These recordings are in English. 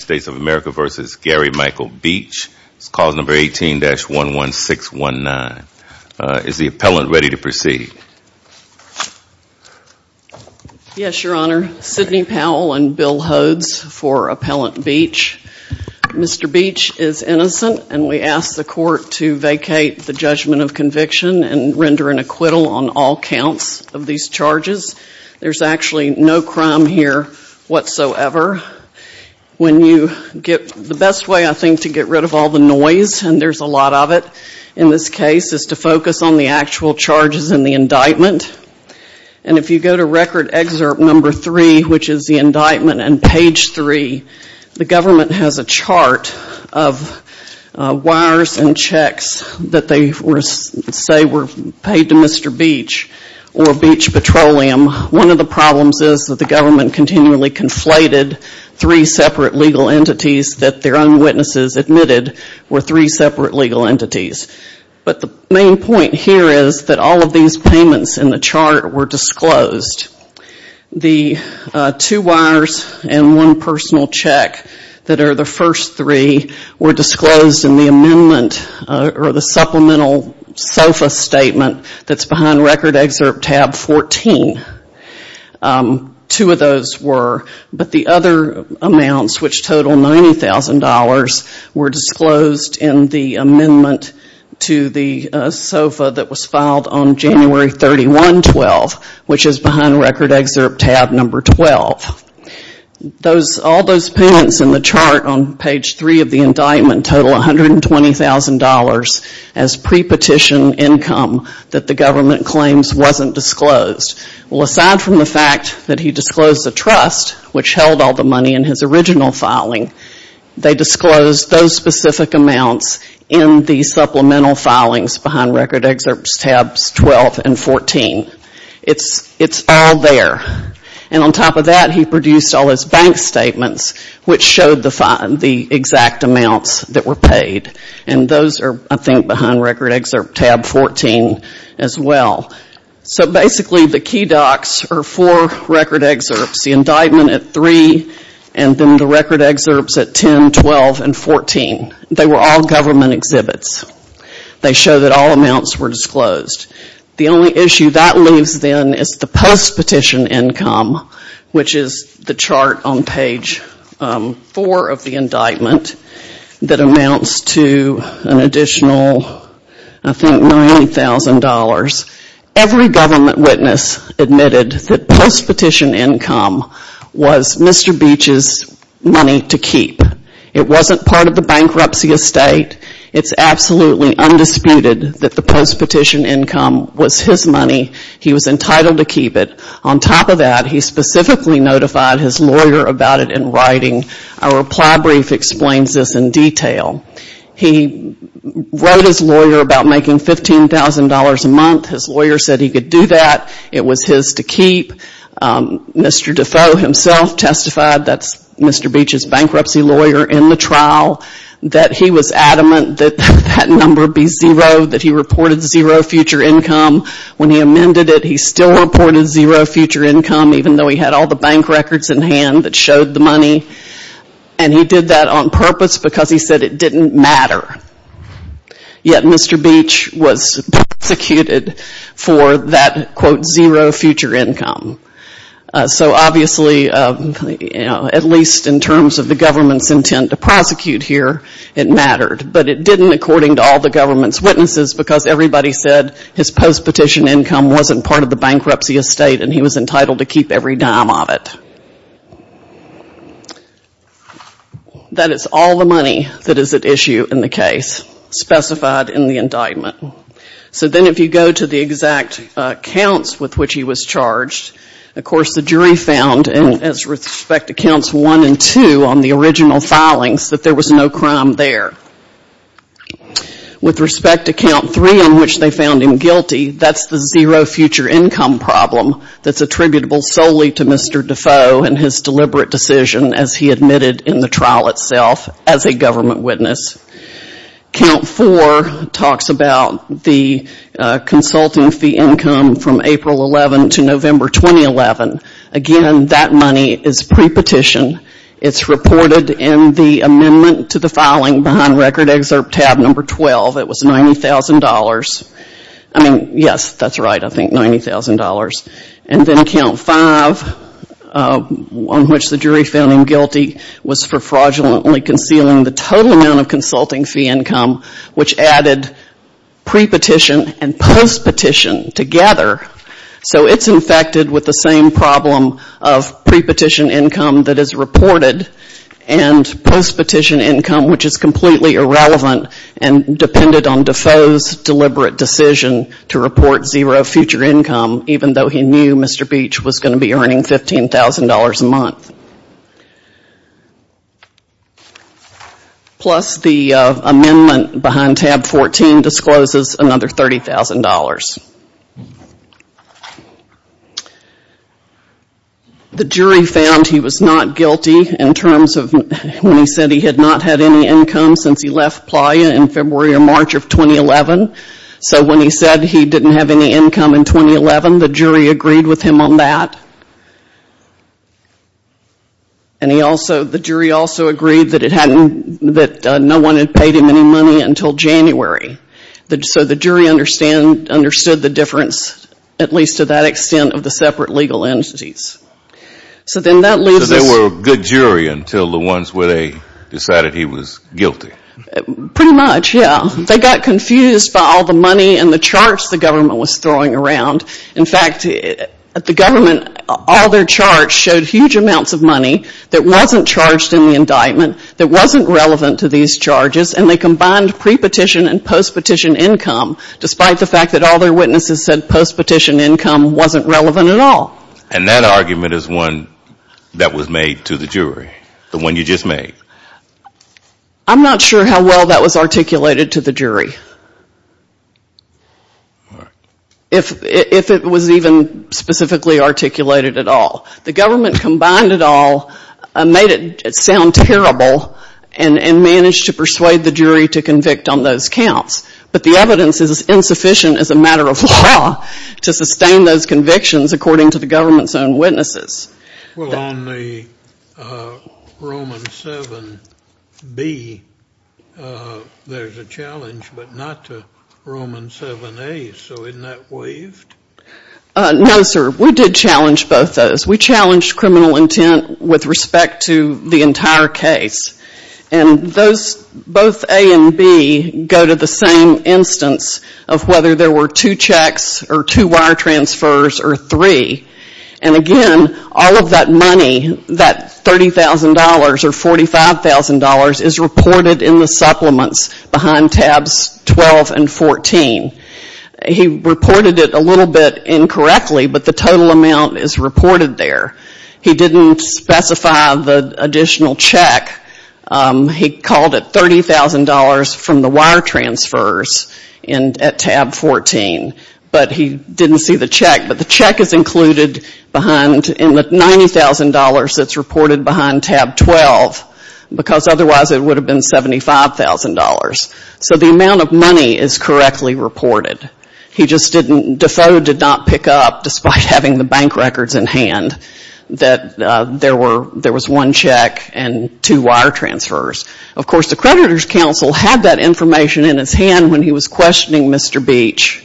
States of America v. Gary Michael Beach. It's clause number 18-11619. Is the appellant ready to proceed? Yes, your honor. Sidney Powell and Bill Hodes for Appellant Beach. Mr. Beach is innocent and we ask the court to vacate the judgment of conviction and render an acquittal on all counts of these charges. There's actually no crime here whatsoever. When you get, the best way I think to get rid of all the noise, and there's a lot of it in this case, is to focus on the actual charges in the indictment. And if you go to record excerpt number 3, which is the indictment on page 3, the government has a chart of wires and checks that they say were paid to Mr. Beach or Beach Petroleum. One of the problems is that the government continually conflated three separate legal entities that their own witnesses admitted were three separate legal entities. But the main point here is that all of these payments in the chart were disclosed. The two wires and one personal check that are the first three were disclosed in the amendment or the supplemental SOFA statement that's behind record excerpt tab 14. Two of those were, but the other amounts which total $90,000 were disclosed in the amendment to the SOFA that was filed on January 31, 12, which is behind record excerpt tab number 12. All those payments in the chart on page 3 of the indictment total $120,000 as pre-petition income that the government claims wasn't disclosed. Well, aside from the fact that he disclosed the trust, which held all the money in his original filing, they disclosed those specific amounts in the supplemental filings behind record excerpts tabs 12 and 14. It's all there. And on top of that, he produced all his bank statements, which showed the exact amounts that were paid. And those are, I think, behind record excerpt tab 14 as well. So basically, the key docs are four record excerpts, the indictment at 3 and then the record excerpts at 10, 12, and 14. They were all government exhibits. They show that all amounts were disclosed. The only issue that leaves then is the post-petition income, which is the chart on page 4 of the indictment that amounts to an additional, I think, $90,000. Every government witness admitted that post-petition income was Mr. Beach's money to keep. It wasn't part of the income. It was his money. He was entitled to keep it. On top of that, he specifically notified his lawyer about it in writing. Our reply brief explains this in detail. He wrote his lawyer about making $15,000 a month. His lawyer said he could do that. It was his to keep. Mr. Defoe himself testified, that's Mr. Beach's bankruptcy lawyer, in the trial that he was adamant that that number be zero, that he reported zero future income. When he amended it, he still reported zero future income, even though he had all the bank records in hand that showed the money. He did that on purpose because he said it didn't matter. Yet Mr. Beach was prosecuted for that, quote, zero future income. So obviously, at least in terms of the government's intent to prosecute here, it mattered. But it didn't, according to all the government's witnesses, because everybody said his post-petition income wasn't part of the bankruptcy estate and he was entitled to keep every dime of it. That is all the money that is at issue in the case specified in the indictment. So then if you go to the exact counts with which he was charged, of course, the jury found, and as respect to counts one and two on the original filings, that there was no crime there. With respect to count three in which they found him guilty, that's the zero future income problem that's attributable solely to Mr. Defoe and his deliberate decision as he admitted in the trial itself as a government witness. Count four talks about the consulting fee income from April 11 to November 2011. Again, that money is pre-petition. It's reported in the amendment to the filing behind Record Excerpt tab number 12. It was $90,000. I mean, yes, that's right, I think $90,000. And then count five, on which the jury found him guilty, was for fraudulently concealing the total amount of consulting fee income, which added pre-petition and post-petition together. So it's infected with the same problem of pre-petition income that is reported and post-petition income, which is completely irrelevant and depended on Defoe's deliberate decision to report zero future income, even though he knew Mr. Beach was going to be earning $15,000 a month. Plus the amendment behind tab 14 discloses another $30,000. The jury found he was not guilty in terms of when he said he had not had any income since he left Playa in February or March of 2011. So when he said he didn't have any income in 2011, the jury agreed with him on that. And he also, the jury also agreed that it hadn't, that no one had paid him any money until January. So the jury understand, understood the difference, at least to that extent, of the separate legal entities. So then that leaves us So they were a good jury until the ones where they decided he was guilty. Pretty much, yeah. They got confused by all the money and the charts the government was throwing around. In fact, at the government, all their charts showed huge amounts of money that wasn't charged in the indictment, that wasn't relevant to these charges, and they combined pre-petition and post-petition income, despite the fact that all their witnesses said post-petition income wasn't relevant at all. And that argument is one that was made to the jury? The one you just made? Yes. I'm not sure how well that was articulated to the jury, if it was even specifically articulated at all. The government combined it all, made it sound terrible, and managed to persuade the jury to convict on those counts. But the evidence is insufficient as a matter of law to sustain those convictions according to the government's own witnesses. Well, on the Roman 7b, there's a challenge, but not to Roman 7a, so isn't that waived? No, sir. We did challenge both those. We challenged criminal intent with respect to the entire case. And those, both a and b, go to the same instance of whether there were two checks or two wire transfers or three. And again, all of that money, that $30,000 or $45,000, is reported in the supplements behind tabs 12 and 14. He reported it a little bit incorrectly, but the total amount is reported there. He didn't specify the additional check. He called it $30,000 from the wire transfers at tab 14, but he didn't see the check. But the check is included behind, in the $90,000 that's reported behind tab 12, because otherwise it would have been $75,000. So the amount of money is correctly reported. He just didn't, Defoe did not pick up, despite having the bank records in hand, that there was one check and two wire transfers. Of course, the creditor's counsel had that information in his hand when he was questioning Mr. Beach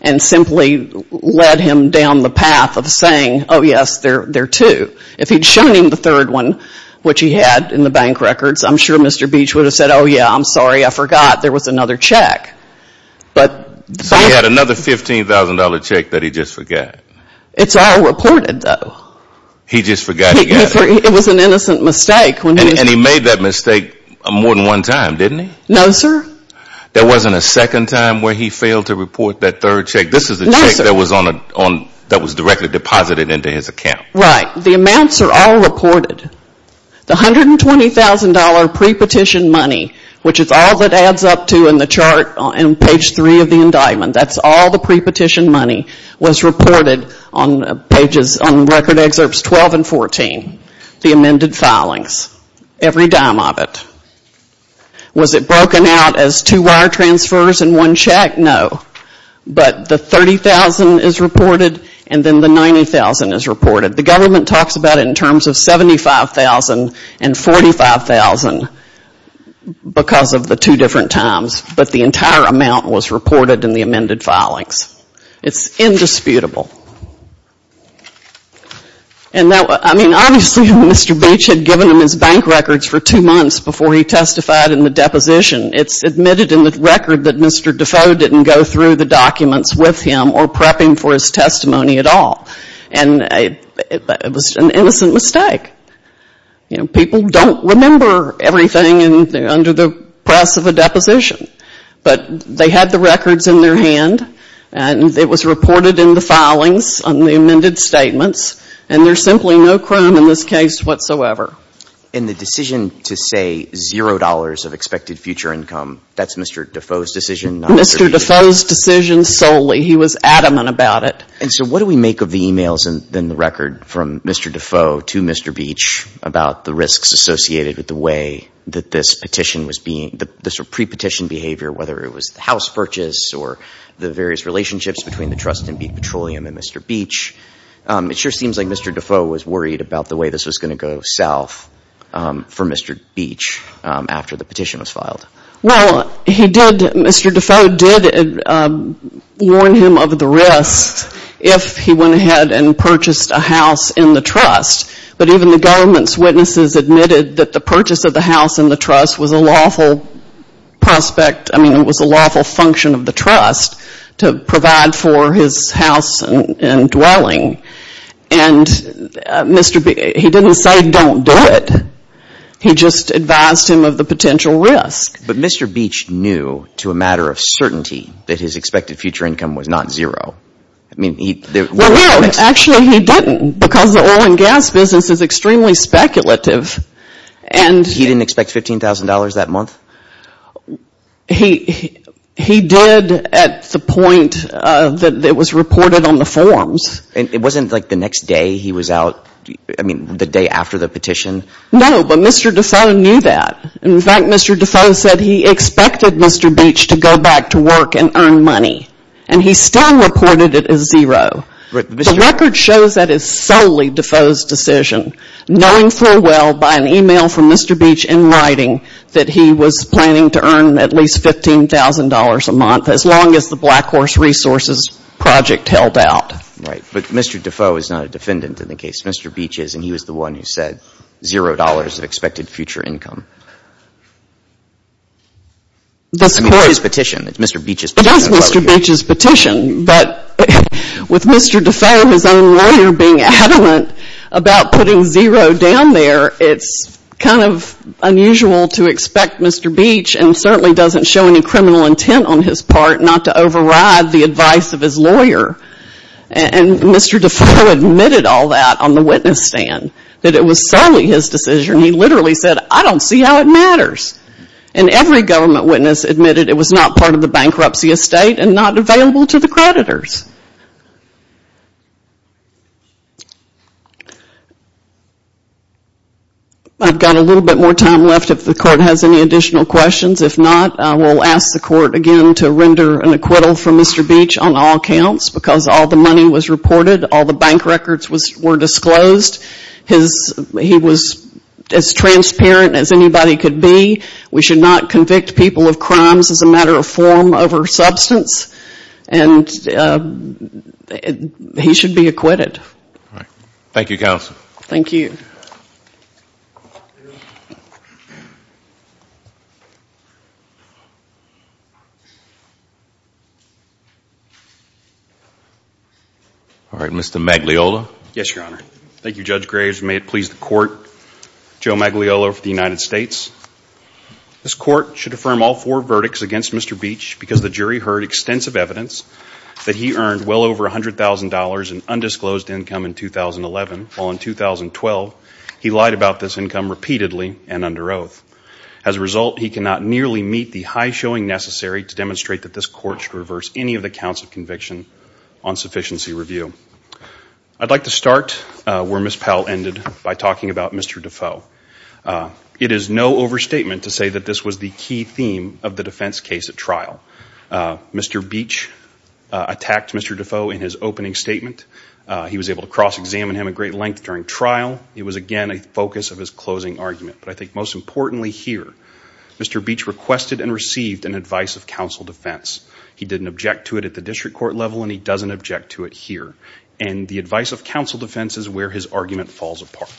and simply led him down the path of saying, oh, yes, there are two. If he had shown him the third one, which he had in the bank records, I'm sure Mr. Beach would have said, oh, yeah, I'm sorry, I forgot there was another check. So he had another $15,000 check that he just forgot. It's all reported, though. He just forgot he got it. It was an innocent mistake. And he made that mistake more than one time, didn't he? No, sir. There wasn't a second time where he failed to report that third check. This is the check that was directly deposited into his account. Right. The amounts are all reported. The $120,000 pre-petition money, which is all that adds up to in the chart on page three of the indictment, that's all the pre-petition money, was reported on record excerpts 12 and 14, the amended filings, every dime of it. Was it broken out as two wire transfers and one check? No. But the $30,000 is reported and then the $90,000 is reported. The government talks about it in terms of $75,000 and $45,000 because of the two different times, but the entire amount was reported in the amended filings. It's indisputable. And now, I mean, obviously Mr. Beach had given him his bank records for two months before he testified in the deposition. It's admitted in the record that Mr. Defoe didn't go through the documents with him or prepping for his testimony at all. And it was an innocent mistake. People don't remember everything under the press of a deposition, but they had the records in their hand, and it was reported in the filings on the amended statements, and there's simply no crime in this case whatsoever. And the decision to say $0 of expected future income, that's Mr. Defoe's decision, not Mr. Beach's? Mr. Defoe's decision solely. He was adamant about it. And so what do we make of the emails in the record from Mr. Defoe to Mr. Beach about the risks associated with the way that this petition was being, the pre-petition behavior, whether it was the house purchase or the various relationships between the trust and Petroleum and Mr. Beach? It sure seems like Mr. Defoe was worried about the way this was going to go south for Mr. Beach after the petition was filed. Well, he did, Mr. Defoe did warn him of the risks if he went ahead and purchased a house in the trust. But even the government's witnesses admitted that the purchase of the house in the trust was a lawful prospect, I mean, it was a lawful function of the trust to provide for his house and dwelling. And Mr. Beach, he didn't say don't do it. He just advised him of the potential risk. But Mr. Beach knew to a matter of certainty that his expected future income was not zero. I mean, he... Well, no, actually he didn't because the oil and gas business is extremely speculative. He didn't expect $15,000 that month? He did at the point that it was reported on the forms. It wasn't like the next day he was out, I mean, the day after the petition? No, but Mr. Defoe knew that. In fact, Mr. Defoe said he expected Mr. Beach to go back to work and earn money. And he still reported it as zero. The record shows that it's solely Defoe's decision, knowing full well by an e-mail from Mr. Beach in writing that he was planning to earn at least $15,000 a month as long as the Black Horse Resources Project held out. Right. But Mr. Defoe is not a defendant in the case. Mr. Beach is, and he was the one who said zero dollars of expected future income. I mean, it's his petition. It's Mr. Beach's petition. It is Mr. Beach's petition, but with Mr. Defoe, his own lawyer, being adamant about putting zero down there, it's kind of unusual to expect Mr. Beach, and certainly doesn't show any criminal intent on his part, not to override the advice of his lawyer. And Mr. Defoe admitted all that on the witness stand, that it was solely his decision. He literally said, I don't see how it matters. And every government witness admitted it was not part of the bankruptcy estate and not available to the creditors. I've got a little bit more time left if the Court has any additional questions. If not, I will ask the Court again to render an acquittal for Mr. Beach on all counts, because all the money was reported, all the bank records were disclosed, he was as transparent as anybody could be. We should not convict people of crimes as a matter of form over substance. And he should be acquitted. Thank you, Counsel. Thank you. All right, Mr. Magliola. Yes, Your Honor. Thank you, Judge Graves. May it please the Court, Joe Magliola for the United States. This Court should affirm all four verdicts against Mr. Beach because the jury heard extensive evidence that he earned well over $100,000 in undisclosed income in 2011, while in 2012 he lied about this income repeatedly and under oath. As a result, he cannot nearly meet the high showing necessary to demonstrate that this Court should reverse any of the counts of conviction on sufficiency review. I'd like to start where Ms. Powell ended by talking about Mr. Defoe. It is no overstatement to say that this was the key theme of the defense case at trial. Mr. Beach attacked Mr. Defoe in his opening statement. He was able to cross-examine him at great length during trial. It was, again, a focus of his closing argument. But I think most importantly here, Mr. Beach requested and received an advice of counsel defense. He didn't object to it at the district court level and he doesn't object to it here. And the advice of counsel defense is where his argument falls apart.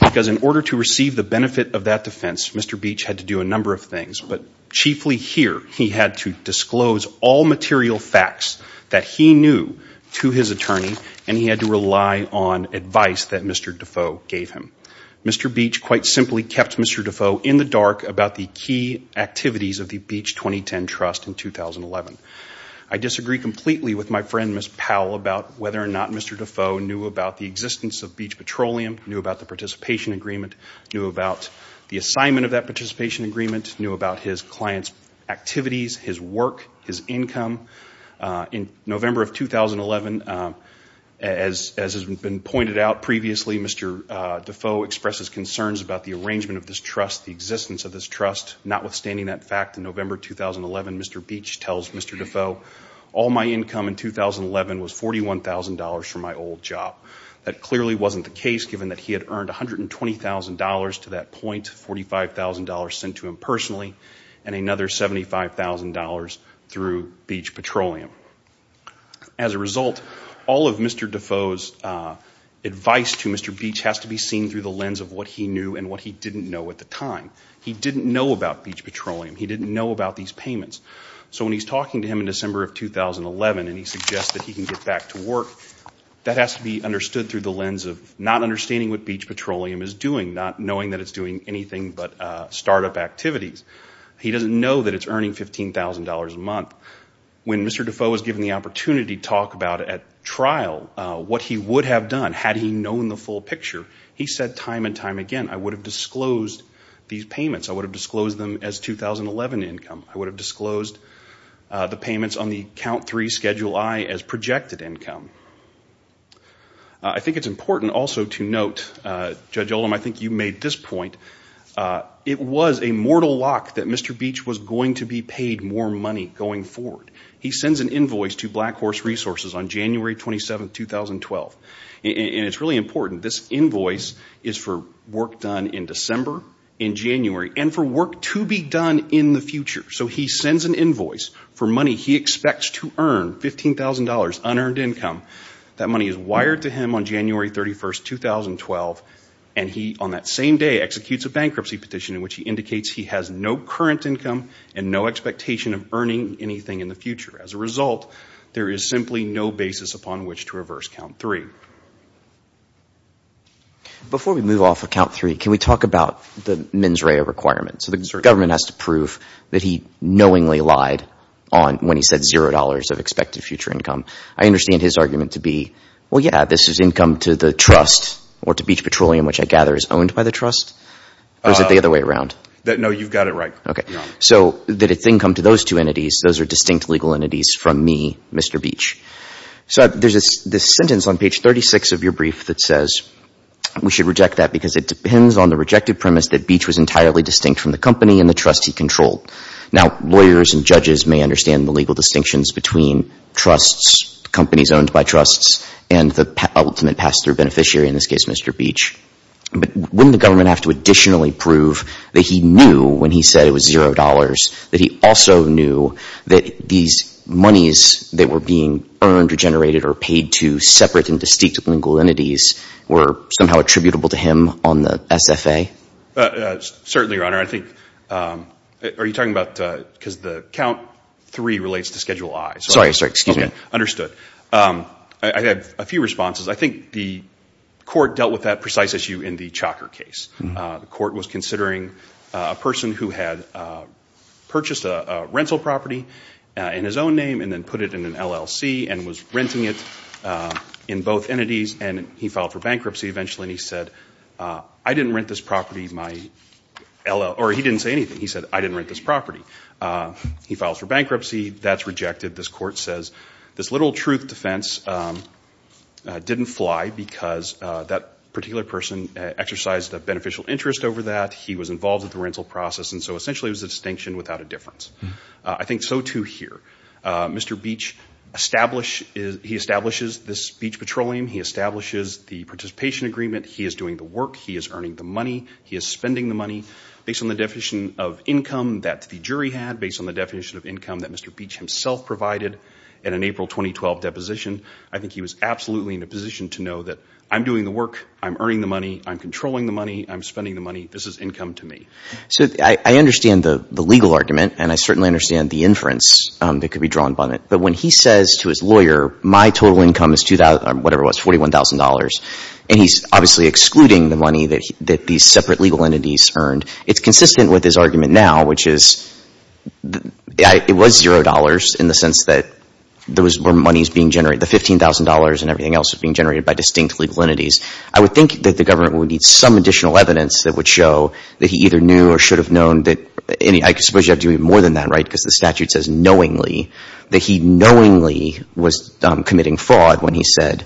Because in order to receive the benefit of that defense, Mr. Beach had to do a number of things. But chiefly here, he had to disclose all material facts that he knew to his attorney and he had to rely on advice that Mr. Defoe gave him. Mr. Beach quite simply kept Mr. Defoe in the dark about the key activities of the Beach 2010 trust in 2011. I disagree completely with my friend, Ms. Powell, about whether or not Mr. Defoe knew about the existence of Beach Petroleum, knew about the participation agreement, knew about the assignment of that participation agreement, knew about his client's activities, his work, his income. In November of 2011, as has been pointed out previously, Mr. Defoe expresses concerns about the arrangement of this trust, the existence of this trust, notwithstanding that fact, in November 2011, Mr. Beach tells Mr. Defoe, all my income in 2011 was $41,000 for my old job. That clearly wasn't the case given that he had earned $120,000 to that point, $45,000 sent to him personally, and another $75,000 through Beach Petroleum. As a result, all of Mr. Defoe's advice to Mr. Beach has to be seen through the lens of what he knew and what he didn't know at the time. He didn't know about Beach Petroleum. He didn't know about these payments. So when he's talking to him in December of 2011 and he suggests that he can get back to work, that has to be understood through the lens of not understanding what Beach Petroleum is doing, not knowing that it's doing anything but startup activities. He doesn't know that it's earning $15,000 a month. When Mr. Defoe was given the opportunity to talk about at trial what he would have done had he known the full picture, he said time and time again, I would have disclosed these payments. I would have disclosed them as 2011 income. I would have disclosed the payments on the count three Schedule I as projected income. I think it's important also to note, Judge Ullum, I think you made this point. It was a mortal lock that Mr. Beach was going to be paid more money going forward. He sends an invoice to Black Horse Resources on January 27th, 2012. It's really important. This invoice is for work done in December, in January, and for work to be done in the future. So he sends an invoice for money he expects to earn, $15,000, unearned income. That money is wired to him on January 31st, 2012, and he on that same day executes a bankruptcy petition in which he indicates he has no current income and no expectation of earning anything in the future. As a result, there is simply no basis upon which to reverse count three. Before we move off of count three, can we talk about the mens rea requirement? So the government has to prove that he knowingly lied when he said $0 of expected future income. I understand his argument to be, well, yeah, this is income to the trust or to Beach Petroleum, which I gather is owned by the trust? Or is it the other way around? No, you've got it right. So that it's income to those two entities, those are distinct legal entities from me, Mr. Beach. So there's this sentence on page 36 of your brief that says we should reject that because it depends on the rejected premise that Beach was entirely distinct from the company and the trust he controlled. Now lawyers and judges may understand the legal distinctions between trusts, companies owned by trusts, and the ultimate pass-through beneficiary, in this case Mr. Beach. But wouldn't the government have to additionally prove that he knew when he said it was $0 that he also knew that these monies that were being earned or generated or paid to separate and distinct legal entities were somehow attributable to him on the SFA? Certainly, Your Honor. I think, are you talking about, because the count three relates to Schedule I. Sorry, sorry, excuse me. Understood. I have a few responses. I think the court dealt with that precise issue in the Chalker case. The court was considering a person who had purchased a rental property in his own name and then put it in an LLC and was renting it in both entities and he filed for bankruptcy eventually and he said, I didn't rent this property, my, or he didn't say anything. He said, I didn't rent this property. He files for bankruptcy, that's rejected. This court says this literal truth defense didn't fly because that particular person exercised a beneficial interest over that. He was involved with the rental process and so essentially it was a distinction without a difference. I think so too here. Mr. Beach established, he establishes this Beach Petroleum, he establishes the participation agreement, he is doing the work, he is earning the money, he is spending the money. Based on the definition of income that the jury had, based on the definition of income that Mr. Beach himself provided in an April 2012 deposition, I think he was absolutely in a position to know that I'm doing the work, I'm earning the money, I'm controlling the money, I'm spending the money, this is income to me. So I understand the legal argument and I certainly understand the inference that could be drawn upon it, but when he says to his lawyer, my total income is $41,000 and he's obviously excluding the money that these separate legal entities earned, it's consistent with his argument now, which is, it was $0 in the sense that there was more money being generated, the $15,000 and everything else was being generated by distinct legal entities. I would think that the government would need some additional evidence that would show that he either knew or should have known that, I suppose you have to do even more than that right, because the statute says knowingly, that he knowingly was committing fraud when he said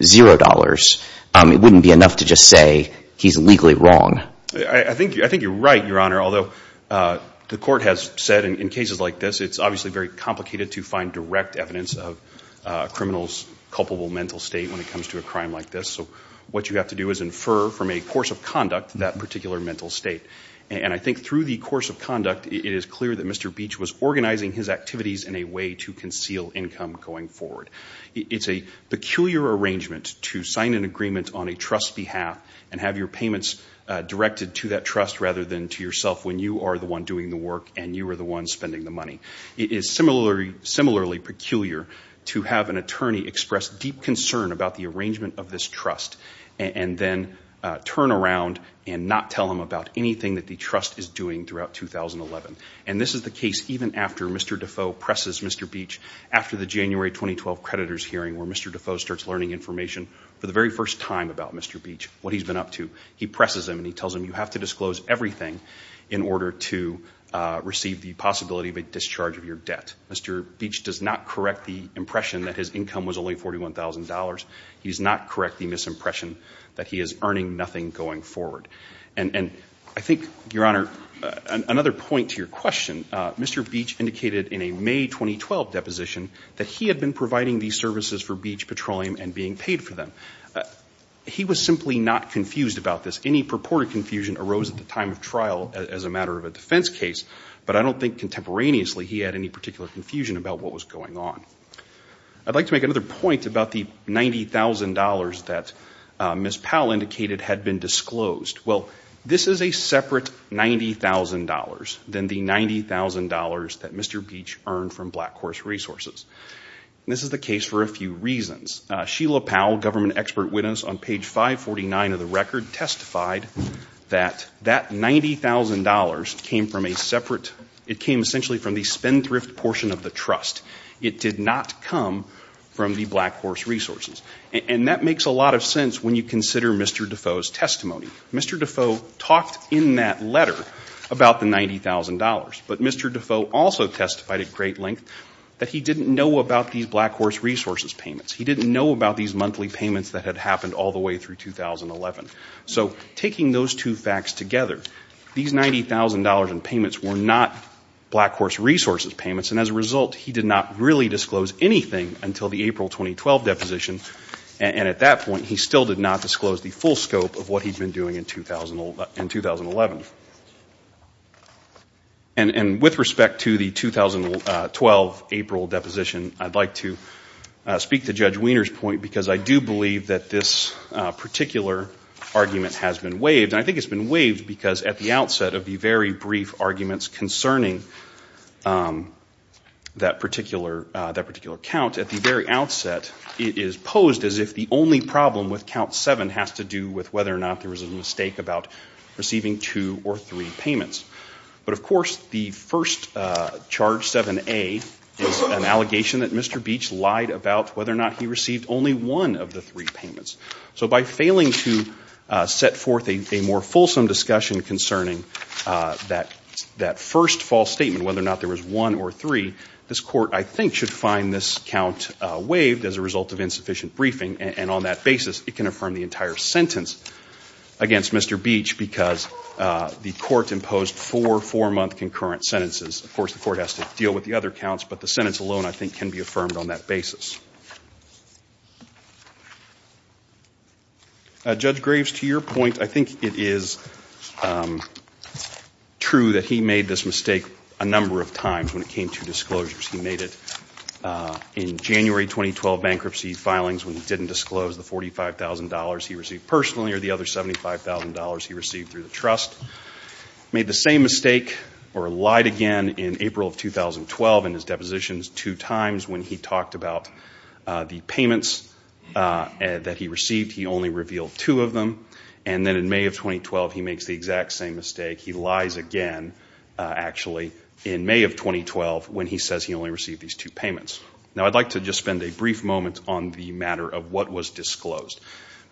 $0. It wouldn't be enough to just say he's legally wrong. I think you're right Your Honor, although the court has said in cases like this, it's obviously very complicated to find direct evidence of a criminal's culpable mental state when it comes to a crime like this, so what you have to do is infer from a course of conduct that particular mental state. And I think through the course of conduct, it is clear that Mr. Beach was organizing his activities in a way to conceal income going forward. It's a peculiar arrangement to sign an agreement on a trust's behalf and have your payments directed to that trust rather than to yourself when you are the one doing the work and you are the one spending the money. It is similarly peculiar to have an attorney express deep concern about the arrangement of this trust and then turn around and not tell him about anything that the trust is doing throughout 2011. And this is the case even after Mr. Defoe presses Mr. Beach after the January 2012 creditor's hearing where Mr. Defoe starts learning information for the very first time about Mr. Beach, what he's been up to. He presses him and he tells him you have to disclose everything in order to receive the possibility of a discharge of your debt. Mr. Beach does not correct the impression that his income was only $41,000. He's not correct the misimpression that he is earning nothing going forward. And I think, Your Honor, another point to your question, Mr. Beach indicated in a May 2012 deposition that he had been providing these services for Beach Petroleum and being paid for them. He was simply not confused about this. Any purported confusion arose at the time of trial as a matter of a defense case, but I don't think contemporaneously he had any particular confusion about what was going on. I'd like to make another point about the $90,000 that Ms. Powell indicated had been disclosed. Well, this is a separate $90,000 than the $90,000 that Mr. Beach earned from Black Horse Resources. And this is the case for a few reasons. Sheila Powell, government expert witness on page 549 of the record, testified that that $90,000 came from a separate, it came essentially from the spendthrift portion of the trust. It did not come from the Black Horse Resources. And that makes a lot of sense when you consider Mr. Defoe's testimony. Mr. Defoe talked in that letter about the $90,000, but Mr. Defoe also testified at great length that he didn't know about these Black Horse Resources payments. He didn't know about these monthly payments that had happened all the way through 2011. So taking those two facts together, these $90,000 in payments were not Black Horse Resources payments and as a result, he did not really disclose anything until the April 2012 deposition. And at that point, he still did not disclose the full scope of what he'd been doing in 2011. And with respect to the 2012 April deposition, I'd like to speak to Judge Wiener's point because I do believe that this particular argument has been waived. And I think it's been waived because at the outset of the very brief arguments concerning that particular count, at the very outset, it is posed as if the only problem with count 7 has to do with whether or not there was a mistake about receiving two or three payments. But of course, the first charge, 7A, is an allegation that Mr. Beach lied about whether or not he received only one of the three payments. So by failing to set forth a more fulsome discussion concerning that first false statement, whether or not there was one or three, this Court, I think, should find this count waived as a result of insufficient briefing. And on that basis, it can affirm the entire sentence against Mr. Beach because the Court imposed four four-month concurrent sentences. Of course, the Court has to deal with the other counts, but the sentence alone, I think, can be affirmed on that basis. Judge Graves, to your point, I think it is true that he made this mistake a number of times when it came to disclosures. He made it in January 2012 bankruptcy filings when he didn't disclose the $45,000 he received personally or the other $75,000 he received through the trust. Made the same mistake or lied again in April of 2012 in his depositions two times when he talked about the payments that he received. He only revealed two of them. And then in May of 2012, he makes the exact same mistake. He lies again, actually, in May of 2012 when he says he only received these two payments. Now, I'd like to just spend a brief moment on the matter of what was disclosed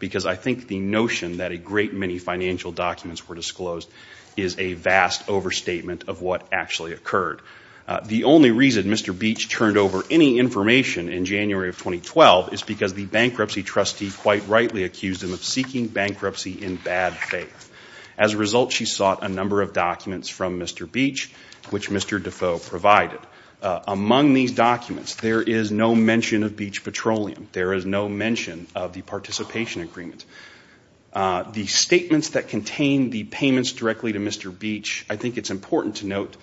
because I think the notion that a great many financial documents were disclosed is a vast overstatement of what actually occurred. The only reason Mr. Beach turned over any information in January of 2012 is because the bankruptcy trustee quite rightly accused him of seeking bankruptcy in bad faith. As a result, she sought a number of documents from Mr. Beach which Mr. Defoe provided. Among these documents, there is no mention of Beach Petroleum. There is no mention of the participation agreement. The statements that contain the payments directly to Mr. Beach, I think it's important to note,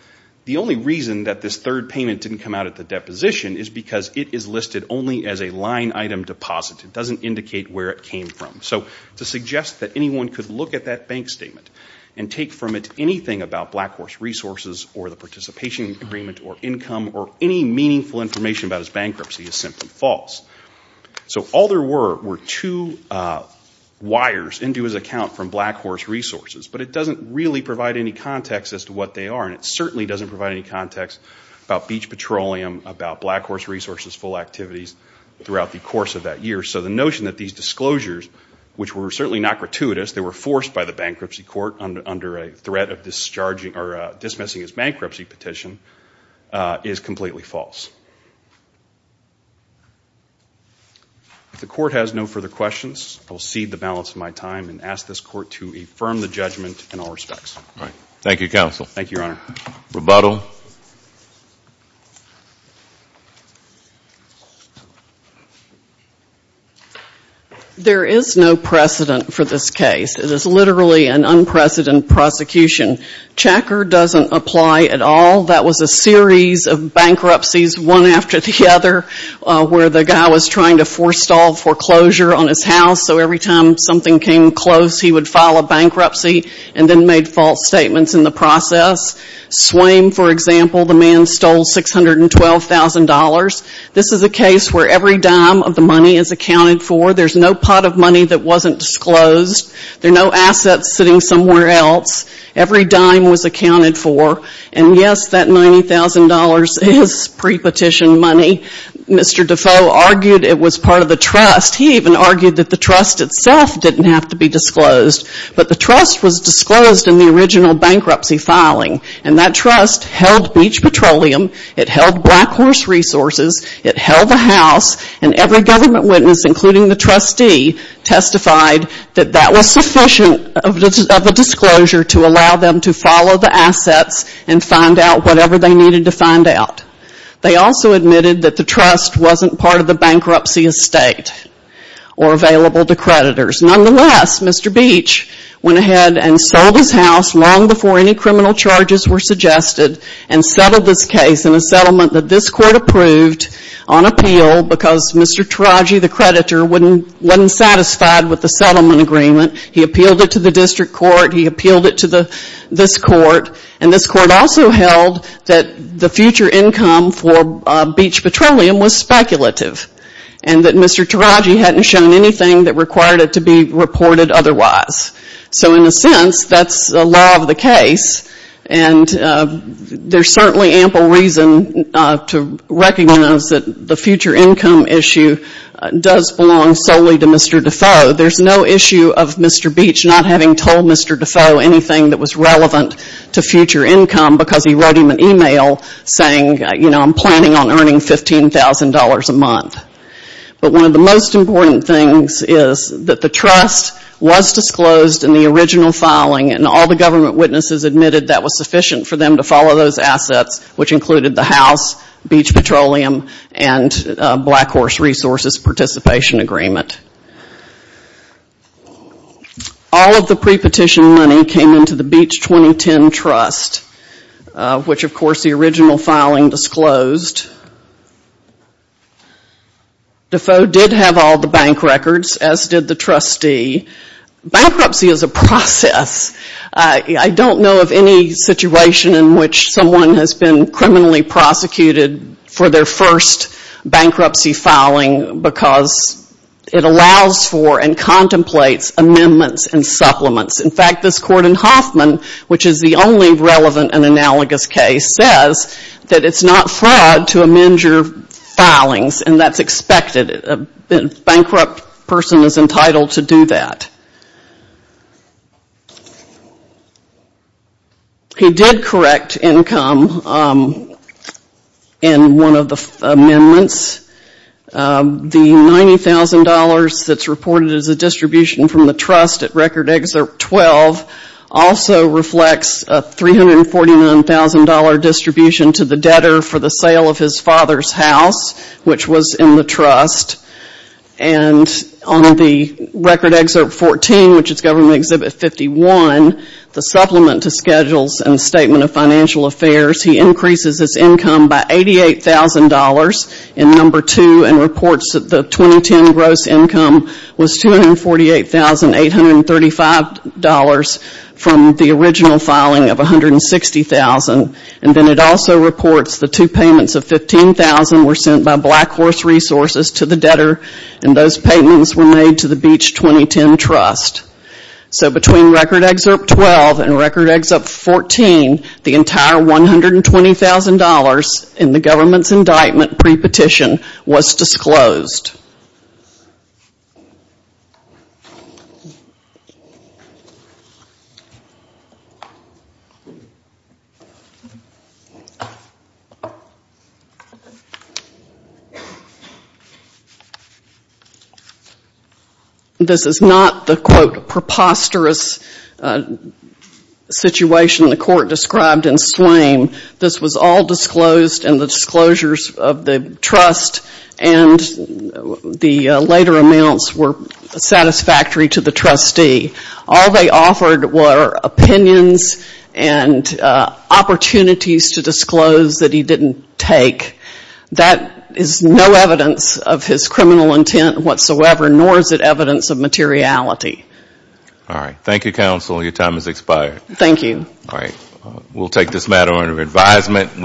the only reason that this third payment didn't come out at the deposition is because it is listed only as a line item deposit. It doesn't indicate where it came from. So to suggest that anyone could look at that bank statement and take from it anything about Blackhorse Resources or the participation agreement or income or any meaningful information about his bankruptcy is simply false. So all there were were two wires into his account from Blackhorse Resources, but it doesn't really provide any context as to what they are and it certainly doesn't provide any context about Beach Petroleum, about Blackhorse Resources full activities throughout the course of that year. So the notion that these disclosures, which were certainly not gratuitous, they were forced by the bankruptcy court under a threat of discharging or dismissing his bankruptcy petition is completely false. If the court has no further questions, I will cede the balance of my time and ask this court to affirm the judgment in all respects. Thank you, Counsel. Thank you, Your Honor. Rebuttal. There is no precedent for this case. It is literally an unprecedented prosecution. Checker doesn't apply at all. That was a series of bankruptcies, one after the other, where the guy was trying to forestall foreclosure on his house so every time something came close he would file a bankruptcy and then made false statements in the process. Swaim, for example, the man stole $612,000. This is a case where every dime of the money is accounted for. There's no pot of money that wasn't disclosed. There are no assets sitting somewhere else. Every dime was accounted for. And yes, that $90,000 is pre-petition money. Mr. Defoe argued it was part of the trust. He even argued that the trust itself didn't have to be disclosed. But the trust was disclosed in the original bankruptcy filing. And that trust held Beech Petroleum. It held Black Horse Resources. It held the house. And every government witness, including the trustee, testified that that was sufficient of a disclosure to allow them to follow the assets and find out whatever they needed to find out. They also admitted that the trust wasn't part of the bankruptcy estate or available to creditors. Nonetheless, Mr. Beech went ahead and sold his house long before any criminal charges were suggested and settled this case in a settlement that this court approved on appeal because Mr. Taraji, the creditor, wasn't satisfied with the settlement agreement. He appealed it to the district court. He appealed it to this court. And this court also held that the future income for Beech Petroleum was speculative. And that Mr. Taraji hadn't shown anything that required it to be reported otherwise. So in a sense, that's the law of the case. And there's certainly ample reason to recognize that the future income issue does belong solely to Mr. Defoe. There's no issue of Mr. Beech not having told Mr. Defoe anything that was real, saying, you know, I'm planning on earning $15,000 a month. But one of the most important things is that the trust was disclosed in the original filing and all the government witnesses admitted that was sufficient for them to follow those assets, which included the house, Beech Petroleum, and Black Horse Resources participation agreement. All of the pre-petition money came into the Beech 2010 trust, which of course the original filing disclosed. Defoe did have all the bank records, as did the trustee. Bankruptcy is a process. I don't know of any situation in which someone has been criminally prosecuted for their first bankruptcy filing because it allows for and contemplates amendments and supplements. In fact, this Court in Hoffman, which is the only relevant and analogous case, says that it's not fraud to amend your filings and that's expected. A bankrupt person is entitled to do that. He did correct income. He did correct income. In one of the amendments, the $90,000 that's reported as a distribution from the trust at Record Excerpt 12 also reflects a $349,000 distribution to the debtor for the sale of his father's house, which was in the trust. And on the Record Excerpt 14, which is Government Exhibit 51, the supplement to schedules and statement of financial affairs, he increases his income by $88,000 in No. 2 and reports that the 2010 gross income was $248,835 from the original filing of $160,000. And then it also reports the two payments of $15,000 were sent by Black Horse Resources to the debtor and those payments were made to the Beach 2010 Trust. So between Record Excerpt 12 and Record Excerpt 14, the entire $120,000 in the government's indictment pre-petition was disclosed. This is not the, quote, preposterous situation the court described in Slame. This was all disclosed, and the disclosures of the trust and the later amounts were satisfactory to the trustee. All they offered were opinions and opportunities to disclose that he didn't take. That is no evidence of his criminal intent whatsoever, nor is it evidence of materiality. All right. Thank you, counsel. Your time has expired. Thank you. All right. We'll take this matter under advisement.